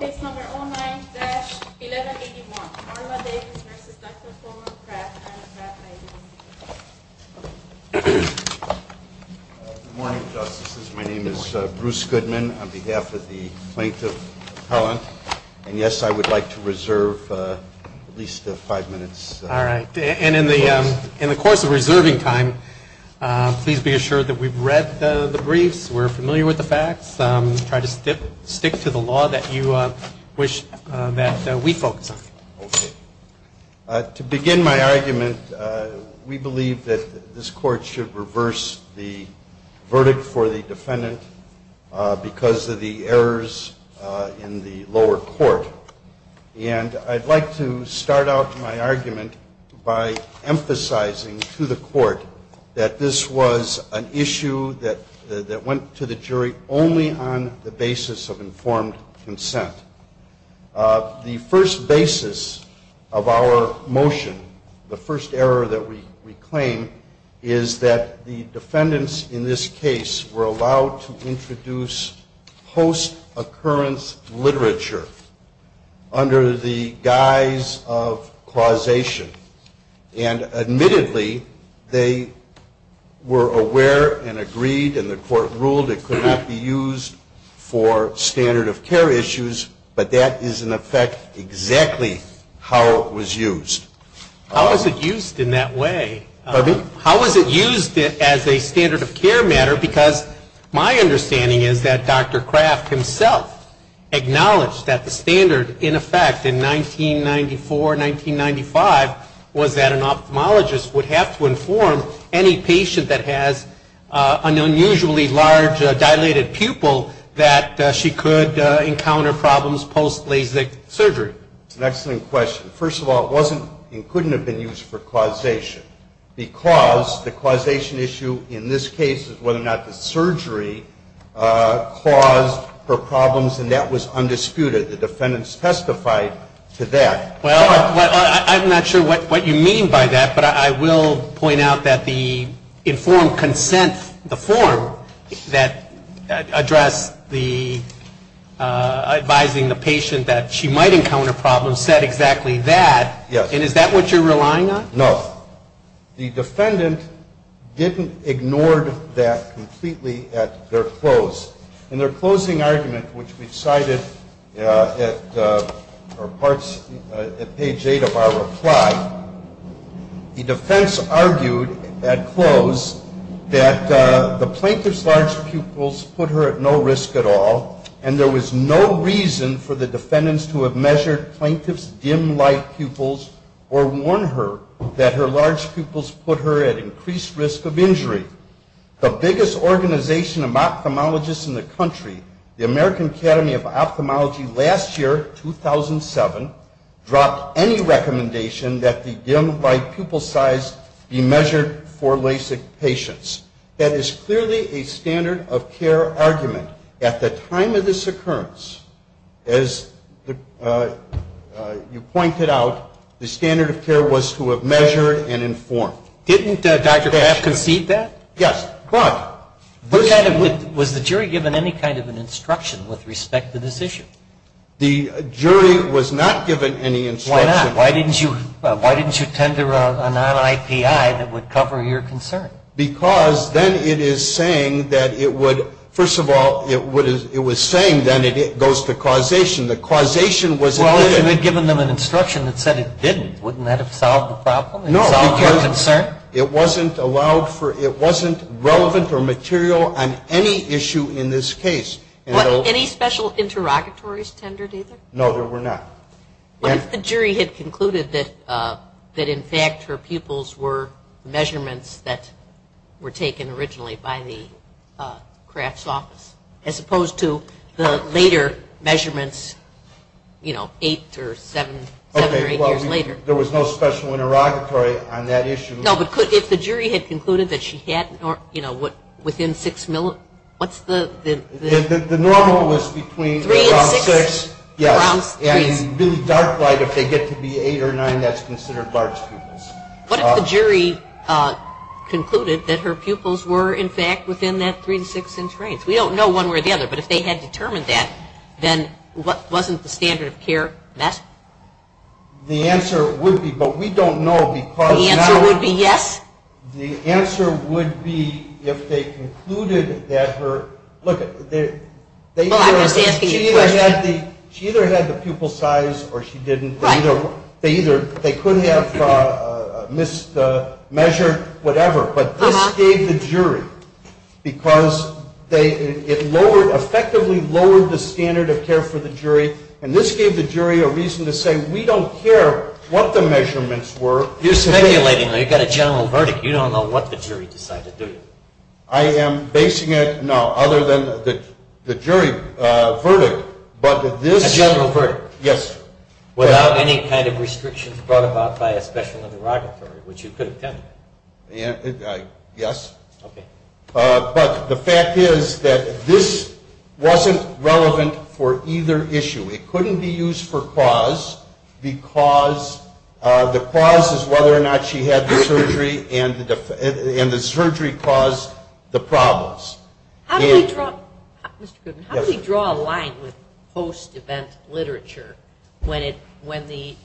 Good morning, Justices. My name is Bruce Goodman on behalf of the Plaintiff Appellant, and yes, I would like to reserve at least five minutes. All right. And in the course of reserving time, please be assured that we've read the law that you wish that we focus on. Okay. To begin my argument, we believe that this Court should reverse the verdict for the defendant because of the errors in the lower court. And I'd like to start out my argument by emphasizing to the Court that this was an issue that went to the jury only on the basis of informed consent. The first basis of our motion, the first error that we claim, is that the defendants in this case were allowed to introduce post-occurrence literature under the guise of causation. And admittedly, they were aware and agreed and the Court ruled it could not be used for standard of care issues, but that is in effect exactly how it was used. How was it used in that way? Pardon me? How was it used as a standard of care matter? Because my understanding is that Dr. was that an ophthalmologist would have to inform any patient that has an unusually large dilated pupil that she could encounter problems post-LASIK surgery. That's an excellent question. First of all, it wasn't and couldn't have been used for causation because the causation issue in this case is whether or not the surgery caused her problems, and that was undisputed. The defendants testified to that. Well, I'm not sure what you mean by that, but I will point out that the informed consent, the form that addressed the advising the patient that she might encounter problems said exactly that. Yes. And is that what you're relying on? No. The defendant didn't ignore that completely at their close. In their closing argument, which we've cited at page 8 of our reply, the defense argued at close that the plaintiff's large pupils put her at no risk at all, and there was no reason for the defendants to have measured plaintiff's dim light pupils or warned her that her large pupils put her at increased risk of injury. The biggest organization of ophthalmologists in the country, the American Academy of Ophthalmology, last year, 2007, dropped any recommendation that the dim light pupil size be measured for LASIK patients. That is clearly a standard of care argument. At the time of this occurrence, as you pointed out, the standard of care was to have measured and informed. Didn't Dr. Kraft concede that? Yes. But... Was the jury given any kind of an instruction with respect to this issue? The jury was not given any instruction. Why not? Why didn't you tend to a non-IPI that would cover your concern? Because then it is saying that it would, first of all, it was saying then it goes to causation. The causation was... Well, if you had given them an instruction that said it didn't, wouldn't that have solved the problem? No, because it wasn't allowed for, it wasn't relevant or material on any issue in this case. Any special interrogatories tendered either? No, there were not. What if the jury had concluded that in fact her pupils were measurements that were taken originally by the Kraft's office, as opposed to the later measurements, you know, eight or seven, seven or eight years later? There was no special interrogatory on that issue. No, but could, if the jury had concluded that she had, you know, within six, what's the... The normal was between... Three and six. Yes. And in really dark light, if they get to be eight or nine, that's considered large pupils. What if the jury concluded that her pupils were in fact within that three to six inch range? We don't know one way or the other, but if they had determined that, then wasn't the standard of care messed? The answer would be, but we don't know because... The answer would be yes? The answer would be if they concluded that her... Look, they either... Well, I was asking you a question. She either had the pupil size or she didn't. Right. They either, they could have missed the measure, whatever, but this gave the jury, because they, it lowered, effectively lowered the standard of care for the jury, and this gave the jury a reason to say, we don't care what the measurements were. You're speculating, though. You've got a general verdict. You don't know what the jury decided, do you? I am basing it, no, other than the jury verdict, but this... A general verdict. Yes. Without any kind of restrictions brought about by a special interrogatory, which you could have done. Yes. Okay. But the fact is that this wasn't relevant for either issue. It couldn't be used for cause, because the cause is whether or not she had the surgery and the surgery caused the problems. How do we draw... Mr. Goodman. Yes. How do we draw a line with post-event literature when the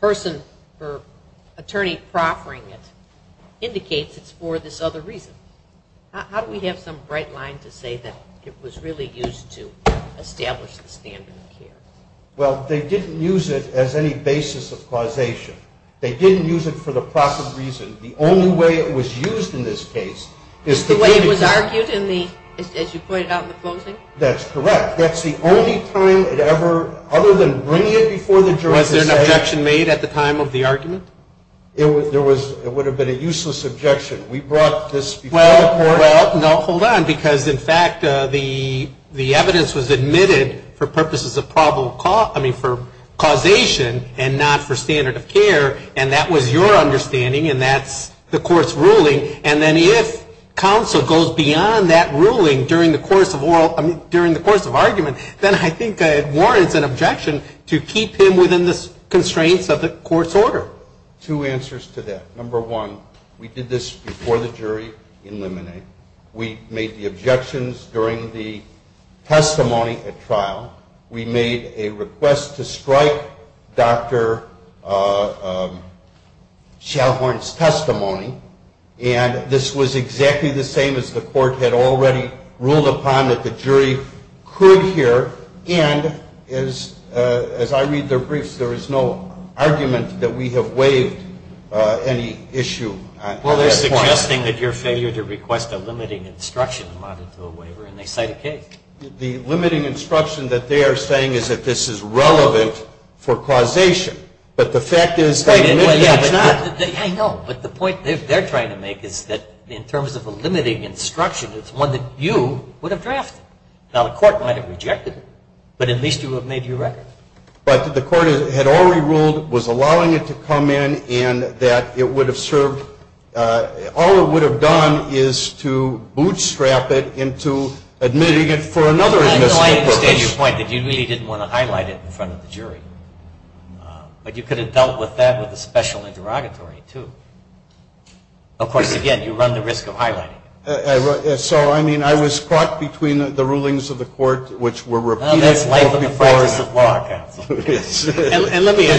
person or attorney proffering it indicates it's for this other reason? How do we have some bright line to say that it was really used to establish the standard of care? Well, they didn't use it as any basis of causation. They didn't use it for the proper reason. The only way it was used in this case is to... The way it was argued in the... As you pointed out in the closing? That's correct. That's the only time it ever, other than bringing it before the jury to say... Was there an objection made at the time of the argument? There was... It would have been a useless objection. We brought this before the court... Well, no. Hold on. Because, in fact, the evidence was admitted for purposes of causation and not for standard of care, and that was your understanding, and that's the court's ruling. And then if counsel goes beyond that ruling during the course of argument, then I think it warrants an objection to keep him within the constraints of the court's order. Two answers to that. Number one, we did this before the jury in Lemonade. We made the objections during the testimony at trial. We made a request to strike Dr. Schallhorn's testimony. And this was exactly the same as the court had already ruled upon that the jury could hear. And, as I read their briefs, there is no argument that we have waived any issue. Well, they're suggesting that your failure to request a limiting instruction amounted to a waiver, and they cite a case. The limiting instruction that they are saying is that this is relevant for causation, but the fact is... I know, but the point they're trying to make is that, in terms of a limiting instruction, it's one that you would have drafted. Now, the court might have rejected it, but at least you would have made your record. But the court had already ruled, was allowing it to come in, and that it would have served... All it would have done is to bootstrap it into admitting it for another admission. I understand your point that you really didn't want to highlight it in front of the jury. But you could have dealt with that with a special interrogatory, too. Of course, again, you run the risk of highlighting it. So, I mean, I was caught between the rulings of the court, which were repeated... That's life in the forest of law, counsel. And let me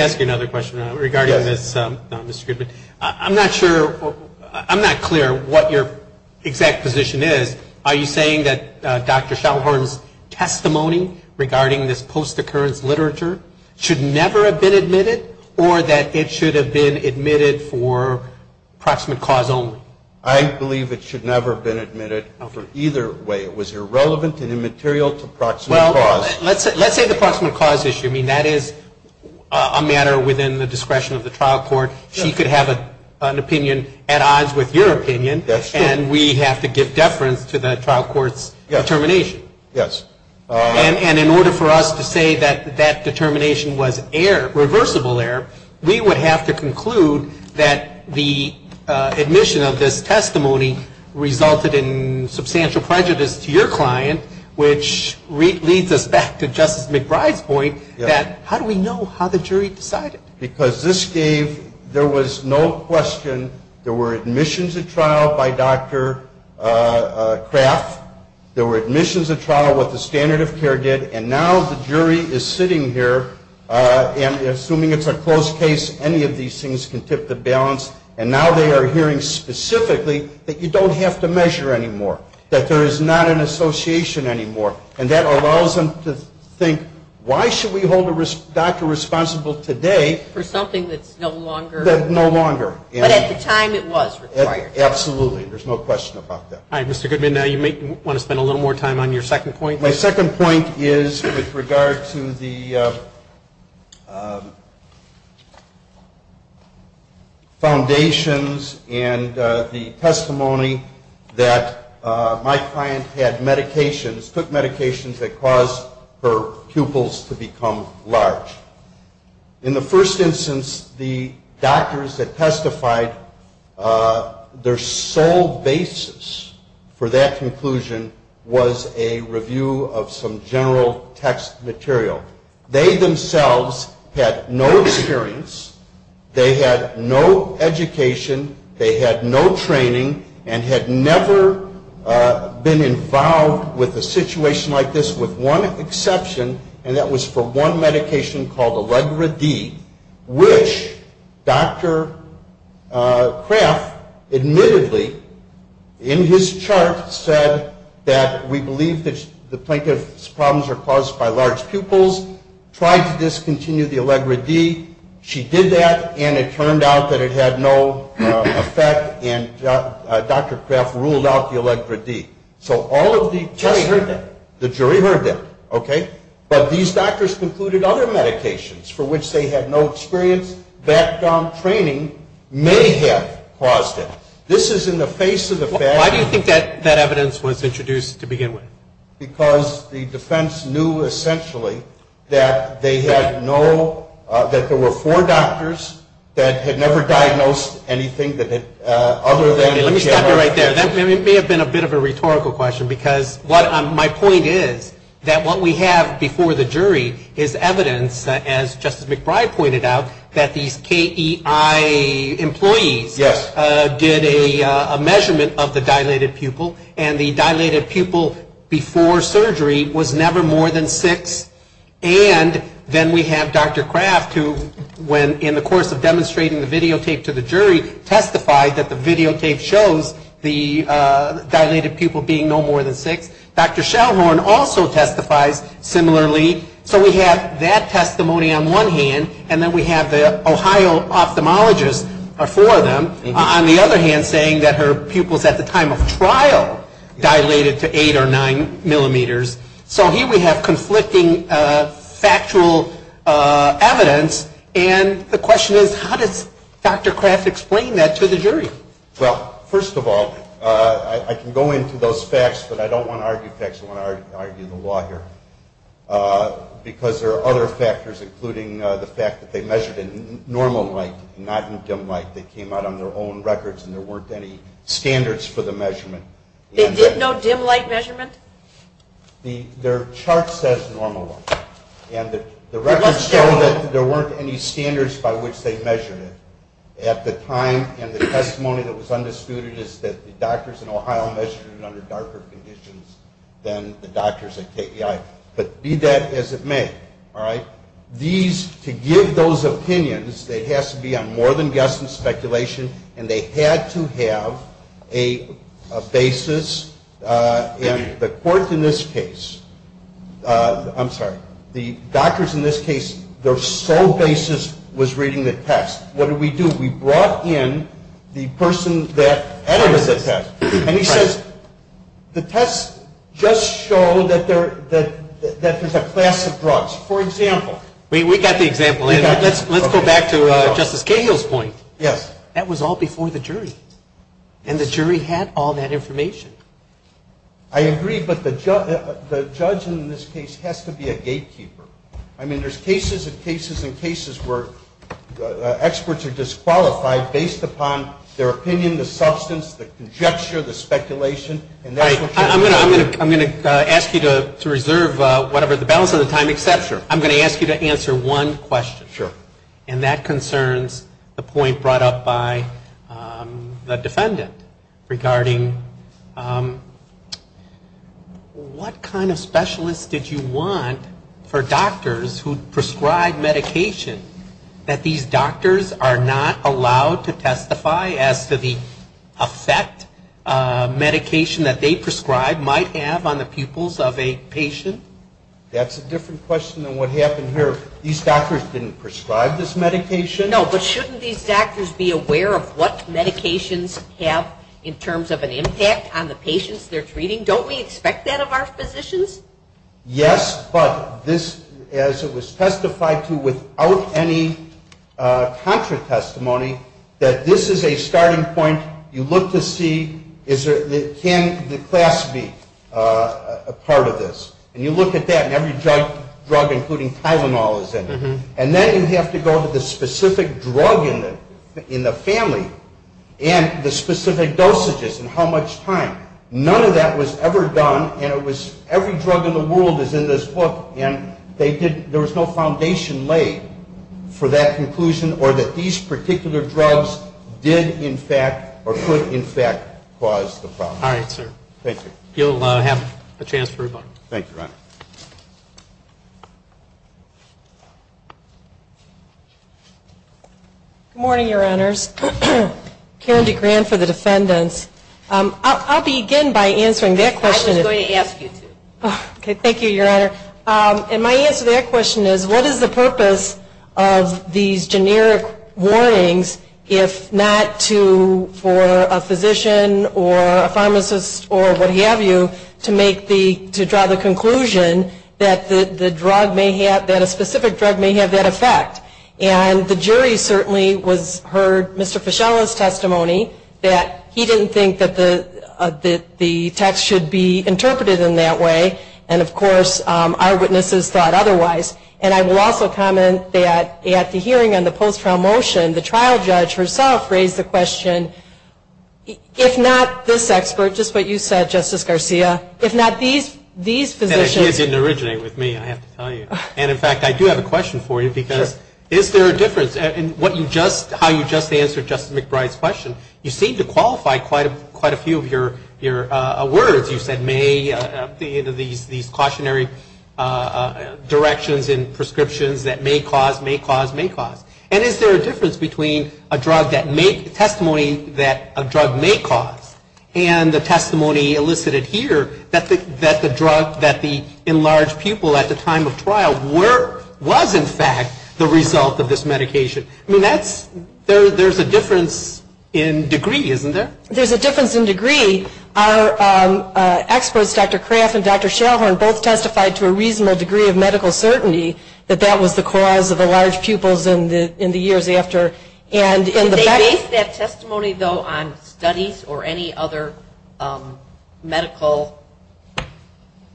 ask you another question regarding this, Mr. Goodman. I'm not sure, I'm not clear what your exact position is. Are you saying that Dr. Shelhorn's testimony regarding this post-occurrence literature should never have been admitted, or that it should have been admitted for proximate cause only? I believe it should never have been admitted for either way. It was irrelevant and immaterial to proximate cause. Well, let's say the proximate cause issue. I mean, that is a matter within the discretion of the trial court. She could have an opinion at odds with your opinion. That's true. And we have to give deference to the trial court's determination. Yes. And in order for us to say that that determination was irreversible error, we would have to conclude that the admission of this testimony resulted in substantial prejudice to your client, which leads us back to Justice McBride's point that how do we know how the jury decided? Because this gave... There was no question. There were admissions at trial by Dr. Kraft. There were admissions at trial, what the standard of care did. And now the jury is sitting here and assuming it's a closed case, any of these things can tip the balance. And now they are hearing specifically that you don't have to measure anymore, that there is not an association anymore. And that allows them to think why should we hold a doctor responsible today... For something that's no longer... That's no longer. But at the time it was required. Absolutely. There's no question about that. All right, Mr. Goodman, now you may want to spend a little more time on your second point. My second point is with regard to the... Foundations and the testimony that my client had medications, took medications that caused her pupils to become large. In the first instance, the doctors that testified, their sole basis for that conclusion was a review of some general text material. They themselves had no experience, they had no education, they had no training and had never been involved with a situation like this with one exception, and that was for one medication called Allegra D, which Dr. Kraft admittedly in his chart said that we believe that the plaintiff's problems are caused by large pupils, tried to discontinue the Allegra D. She did that and it turned out that it had no effect and Dr. Kraft ruled out the Allegra D. So all of the... The jury heard that. The jury heard that, okay? But these doctors concluded other medications for which they had no experience, background training, may have caused it. This is in the face of the fact... So why do you think that evidence was introduced to begin with? Because the defense knew essentially that they had no... that there were four doctors that had never diagnosed anything other than... Let me stop you right there. That may have been a bit of a rhetorical question because my point is that what we have before the jury is evidence, as Justice McBride pointed out, that these KEI employees did a measurement of the dilated pupil and the dilated pupil before surgery was never more than six and then we have Dr. Kraft who, in the course of demonstrating the videotape to the jury, testified that the videotape shows the dilated pupil being no more than six. Dr. Shellhorn also testifies similarly so we have that testimony on one hand and then we have the Ohio ophthalmologist are four of them on the other hand saying that her pupils at the time of trial dilated to eight or nine millimeters so here we have conflicting factual evidence and the question is how does Dr. Kraft explain that to the jury? Well, first of all I can go into those facts but I don't want to argue facts I want to argue the law here because there are other factors including the fact that they measured in normal light not in dim light they came out on their own records and there weren't any standards for the measurement They did no dim light measurement? Their chart says normal light and the records show that there weren't any standards by which they measured it at the time and the testimony that was undisputed is that the doctors in Ohio measured it under darker conditions than the doctors at KPI but be that as it may these, to give those opinions it has to be on more than guesstimate speculation and they had to have a basis and the court in this case I'm sorry the doctors in this case their sole basis was reading the test What did we do? We brought in the person that edited the test and he says the test just showed that there's a class of drugs for example We got the example in Let's go back to Justice Cahill's point Yes That was all before the jury and the jury had all that information I agree but the judge in this case has to be a gatekeeper I mean there's cases and cases where experts are disqualified based upon their opinion the substance the conjecture the speculation I'm going to ask you to reserve the balance of the time except I'm going to ask you to answer one question Sure and that concerns the point brought up by the defendant regarding what kind of specialists did you want for doctors who prescribe medication that these doctors are not allowed to testify as to the effect medication that they prescribed might have on the pupils of a patient That's a different question than what happened here These doctors didn't prescribe this medication No but shouldn't these doctors be aware of what medications have in terms of an impact on the patients they're treating Don't we expect that of our physicians Yes but this as it was testified to without any contra-testimony that this is a starting point you look to see can the class be a part of this and you look at that and every drug including Tylenol is in it and then you have to go to the specific drug in the family and the specific dosages and how much time None of that was ever done and it was every drug in the world is in this book and there was no foundation laid for that conclusion or that these particular drugs did in fact or could in fact cause the problem Thank you You'll have a chance Thank you Good morning your honors Karen DeGran for the defendants I'll begin by answering that question I was going to ask you to Thank you your honor My answer to that question is what is the purpose of these generic warnings if not to for a physician or a pharmacist or what have you to draw the conclusion that a specific drug may have that effect and the jury certainly heard Mr. Fischella's testimony that he didn't think that the text should be interpreted in that way and of course our witnesses thought otherwise and I will also comment that at the hearing on the post-trial motion the trial judge herself raised the question if not this expert just what you said Justice Garcia if not these physicians and in fact I do have a question for you because is there a difference in how you just answered Justice McBride's question you seem to qualify quite a number of words you said may these cautionary directions in prescriptions that may cause may cause may cause and is there a difference between a drug that testimony that a drug may cause and and the testimony elicited here that the drug that the enlarged pupil at the time of trial was in fact the result of this medication there's a difference in degree isn't there there's a difference in medical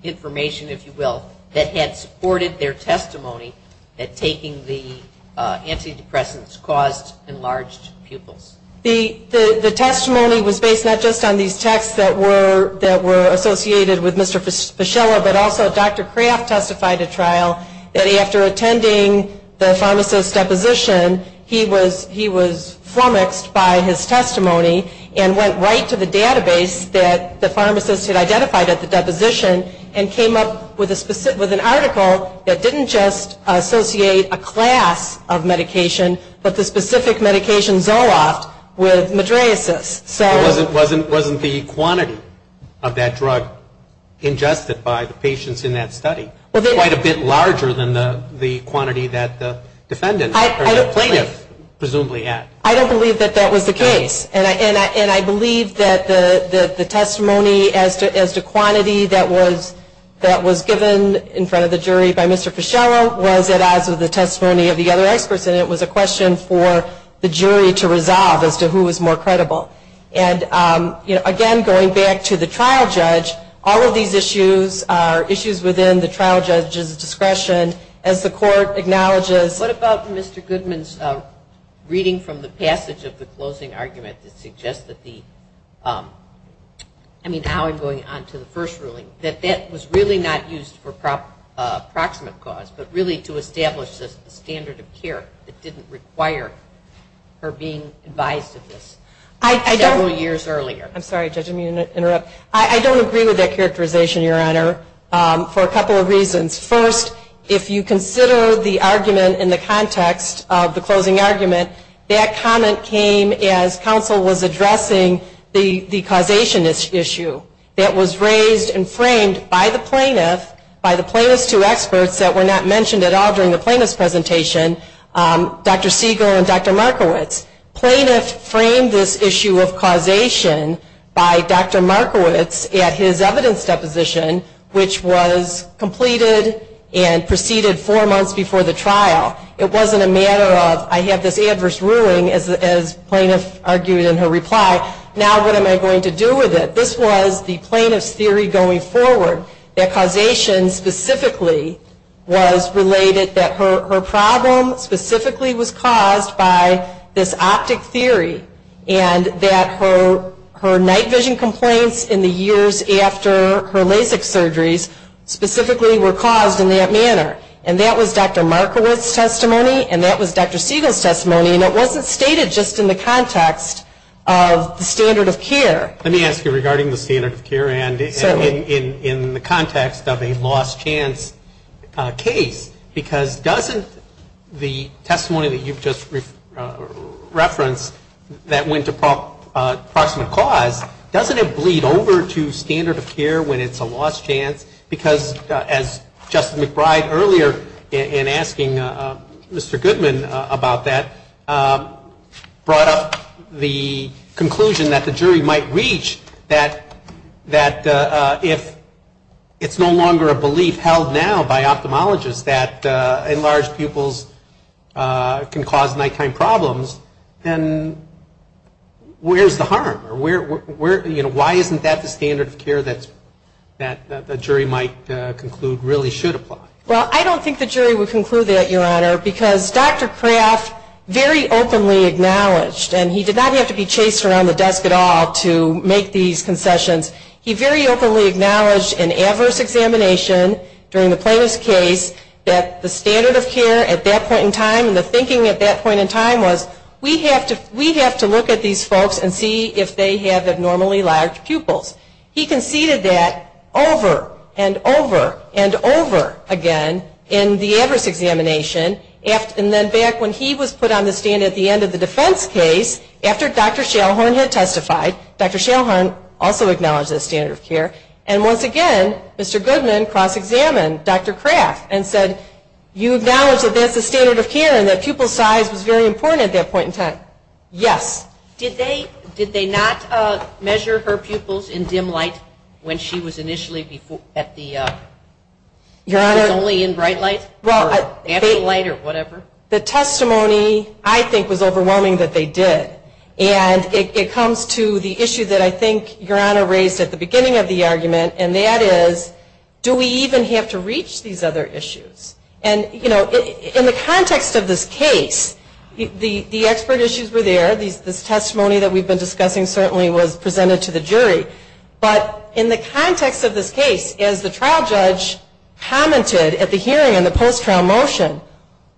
information if you will that had supported their testimony that taking the antidepressants caused enlarged pupils the testimony was based not just on these texts that were associated with Mr. Fischella but also Dr. Kraft testified at trial that after attending the pharmacist deposition he was he was flummoxed by his testimony and went right to the database that the pharmacist had identified at the deposition and came up with an article that didn't just associate a class of medication but the specific medication Zoloft with quite a bit larger than the quantity that the plaintiff presumably had I don't believe that that was the case and I believe that the testimony as to quantity that was given in front of the jury by Mr. Fischella was a question for the jury to resolve as to who was more credible and again going back to the trial judge all of these issues are issues within the trial judge's discretion as the court acknowledges What about Mr. Goodman's reading from the passage of the closing argument that suggests that the I mean how I'm going on to the first ruling that that was really not used for approximate cause but really to establish the standard of care that didn't require her being advised of this several years earlier I don't agree with that characterization your honor for a couple of reasons first if you consider the argument in the context of the closing argument that comment came as counsel was addressing the causation issue that was raised and framed by the plaintiff by the plaintiffs two experts that were not mentioned at all in the plaintiff's presentation Dr. Segal and Dr. Markowitz plaintiff framed this issue of causation by Dr. Markowitz at his evidence deposition which was completed and proceeded four months before the trial it wasn't a matter of I have this adverse ruling as the plaintiff argued in her reply now what am I going to do with it this was the plaintiff's theory going forward that causation specifically was related that her problem specifically was caused by this optic theory and that her night vision complaints in the years after her Lasik surgeries specifically were caused in that manner and that was Dr. Markowitz's testimony and that was Dr. Segal's testimony and it wasn't stated just in the context of the standard of care let me ask you regarding the standard of care and in the context of a lost chance case because doesn't the testimony that you just referenced that went to approximate cause doesn't it bleed over to standard of care when it's a lost chance case because as Justin McBride earlier in asking Mr. Goodman about that brought up the conclusion that the jury might reach that if it's no longer a belief held now by ophthalmologists that enlarged pupils can cause nighttime problems then where's the harm or why isn't that the standard of care that the jury might conclude really should apply? Well I don't think the jury would conclude that your honor because Dr. Schellhorn had testified that the standard of care at that point in time was we have to look at these folks and see if they have abnormally large pupils he conceded that over and over and over again in the address examination and then back when he was put on the stand at the end of the defense case after Dr. Schellhorn had testified Dr. Schellhorn also acknowledged the standard of care at the case that Dr. Schellhorn had testified at the trial. The testimony I think was overwhelming that they did. It comes to the issue that I think your honor raised at the beginning of the argument and that is the trial judge commented at the hearing and the post-trial motion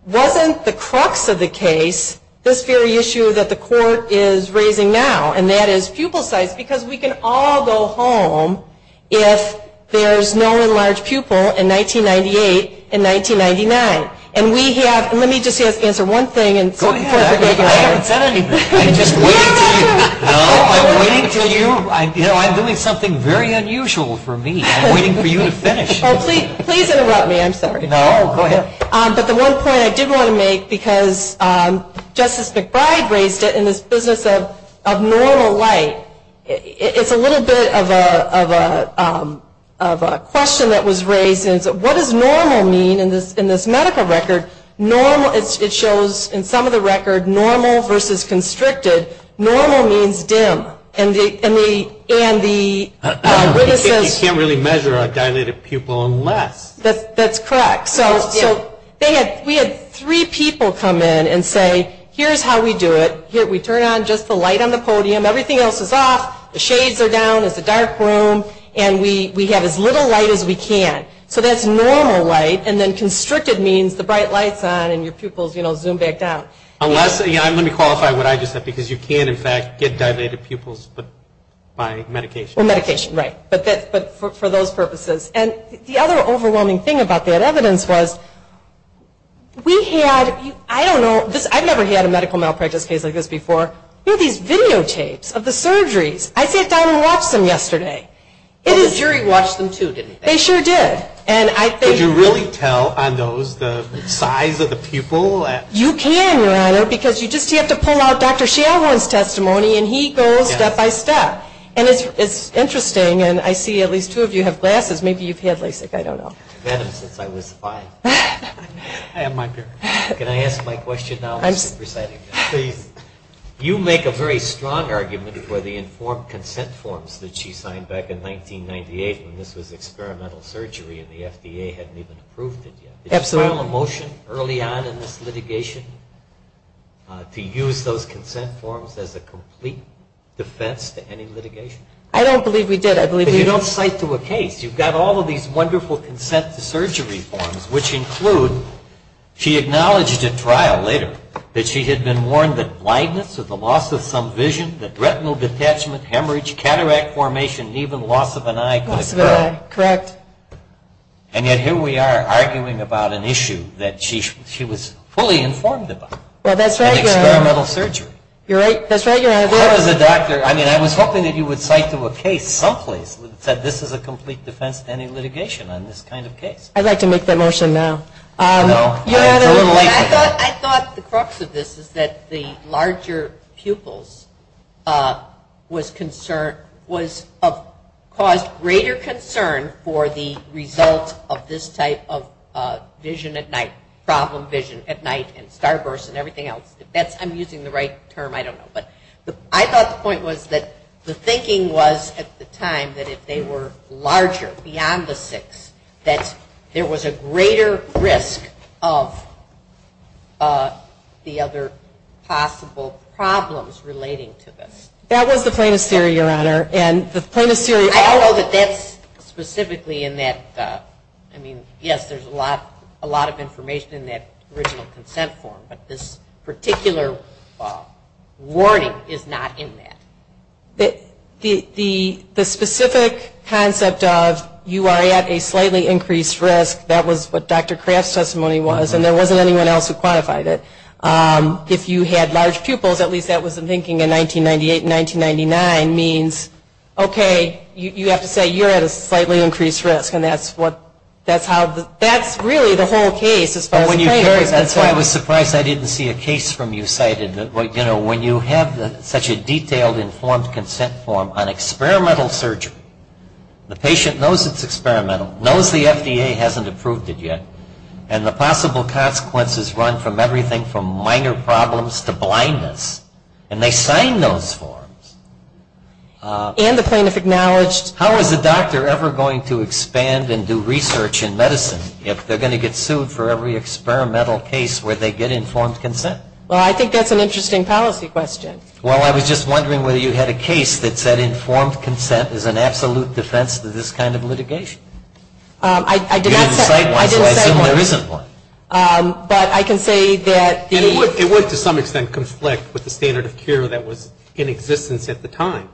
wasn't the crux of the case this very issue that the court is raising now and that is pupil size because we can all go home if there is no enlarged pupil in 1998 and 1999 and we have let me just answer one thing and go ahead I haven't said anything I'm just waiting to you I'm doing something very difficult and I have a question that was raised what does normal mean in this medical record it shows in some of the record normal versus constricted normal means dim you can't measure dilated pupil unless that's correct we had three people come in and say here's how we do it we turn on just the light on the podium everything else is off the shades are down it's a dark room and we have as little light as we can so that's normal light and constricted means bright lights on and pupils zoom back down you can't get dilated pupils by medication for those purposes the other overwhelming thing was we had I don't know I've never had a medical malpractice case like this before we had these video tapes of the surgeries I sat down and watched them yesterday the jury watched them too didn't they sure did did you really tell on those the size of the case you have a very strong argument for the informed consent forms that she signed back in 1998 when this was experimental surgery and the FDA hadn't even approved it yet did you have consent to surgery forms which include she acknowledged at trial later that she had been warned that blindness or the loss of some vision that retinal detachment hemorrhage cataract formation even loss of an eye in the case I'd like to make that motion now I thought the crux of this is that the larger pupils was concerned was of cause greater concern for the result of this type of vision at night problem vision at night and starburst and everything else I'm using the right term I don't know I thought the point was that the thinking was at the time that if they were larger beyond the six there was a greater risk of the possible problems relating to this that was the plaintiff's theory your honor and the plaintiff's theory I don't know that that's specifically in that I mean that was what Dr. Kraft's testimony was and there wasn't anyone else who quantified it if you had large pupils at least that was the thinking in 1998 and 1999 means okay you have to say you're at a slightly increased risk and that's really the whole case that's why I was surprised I didn't see a case from you cited when you have such a detailed informed consent form on experimental surgery the patient knows it's experimental knows the FDA hasn't approved it yet and the possible consequences run from everything from minor problems to blindness and they sign those forms and the plaintiff acknowledged how is the doctor ever going to expand and do research in medicine if they're going to get sued for every experimental case where they get informed consent well I think that's an interesting policy question well I was just wondering whether you had a case that said informed consent is an absolute defense of this kind of litigation I didn't cite one so I assume there isn't one but I can say that it would to some extent conflict with the standard of care that was in existence at the time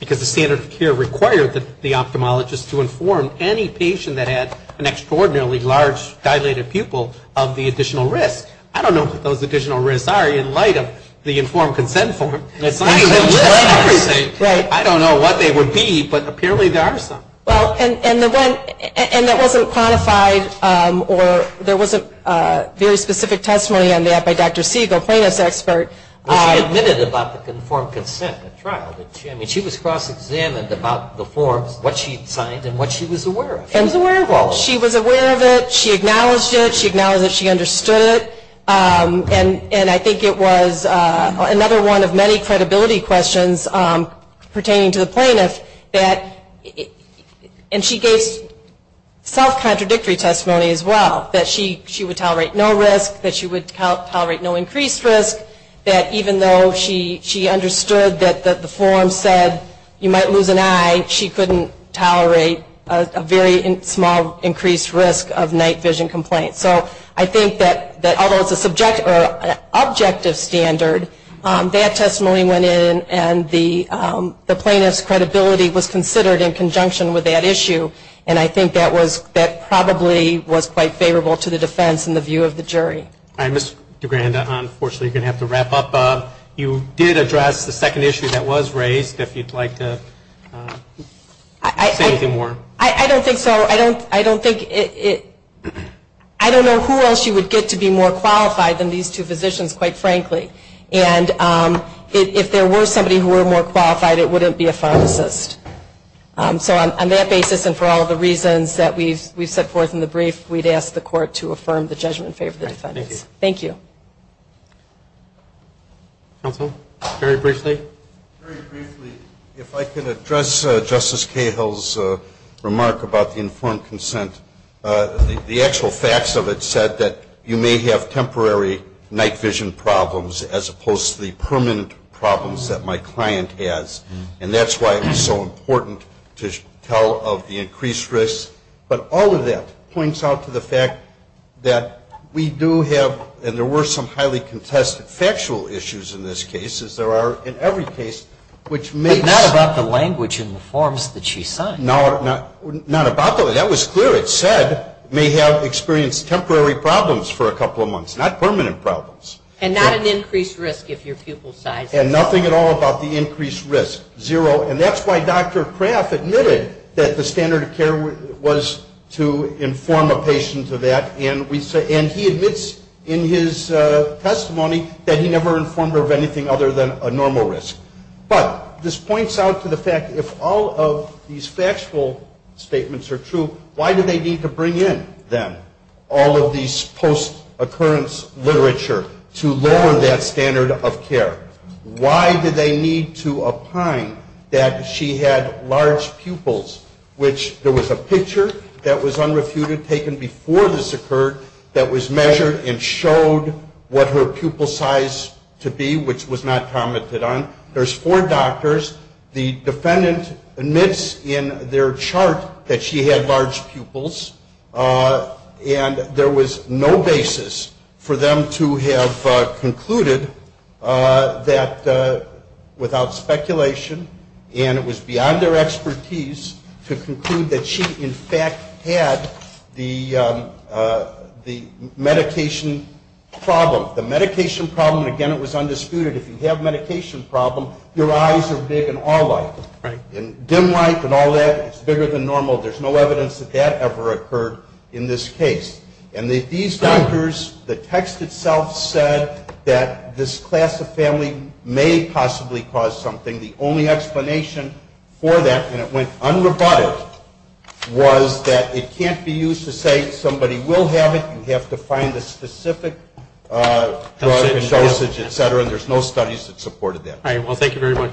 because the standard of care required the ophthalmologist to inform any patient that had an extraordinarily large dilated pupil of the additional risk I don't know what they would be but apparently there are some well and that wasn't quantified or there wasn't very specific testimony on that by Dr. Siegel plaintiff's expert she was cross examined about the forms what she was aware of she was aware of it she acknowledged it she understood it and I think it was another one of many credibility questions pertaining to the plaintiff she gave self contradictory testimony she would tolerate no increased risk even though she understood the form said you might tolerate a very small increased risk of night vision complaint although it's an objective standard that testimony went in and the plaintiff's credibility was considered in conjunction with that I think that was probably quite favorable to the defense and the jury you did address the second issue that was raised if you would like to say more I don't think so I don't know who else you would get to be more qualified than these two physicians quite frankly and if there were somebody more qualified it wouldn't be a pharmacist so on that basis and for all the reasons that we set forth in the brief we would ask the court to affirm the judgment favor of the defense thank you counsel very briefly if I can address justice I can tell of the increased risk but all of that points out to the fact that we do have and there were some highly contested factual issues in this case as there are in every case which may not have experienced temporary problems for a couple of months not permanent problems and nothing at all about the increased risk zero and that's why Dr. McCarty that there is no risk but this points out to the fact if all of these factual statements are true why do they need to bring in them all of these post occurrence literature to lower that standard of care why do they need to apply that she had large pupils which there was a picture that was unrefuted taken before this occurred that was measured and showed what her pupil size to be which was not commented on there's four doctors the defendant admits in their chart that she had large pupils and there was no basis for them to have concluded that without speculation and it was beyond their expertise to conclude that she in fact had the medication problem the medication problem again it was undisputed if you have medication problem your eyes are big and all like dim it's bigger than normal there's no evidence that ever occurred in this case and these doctors the text itself said that this class of family may possibly cause something the only explanation for that and it went unrebutted was that it can't be used to say somebody will have it you have to find the specific drug and dosage et cetera and there's no studies that supported that alright well thank you very much thank you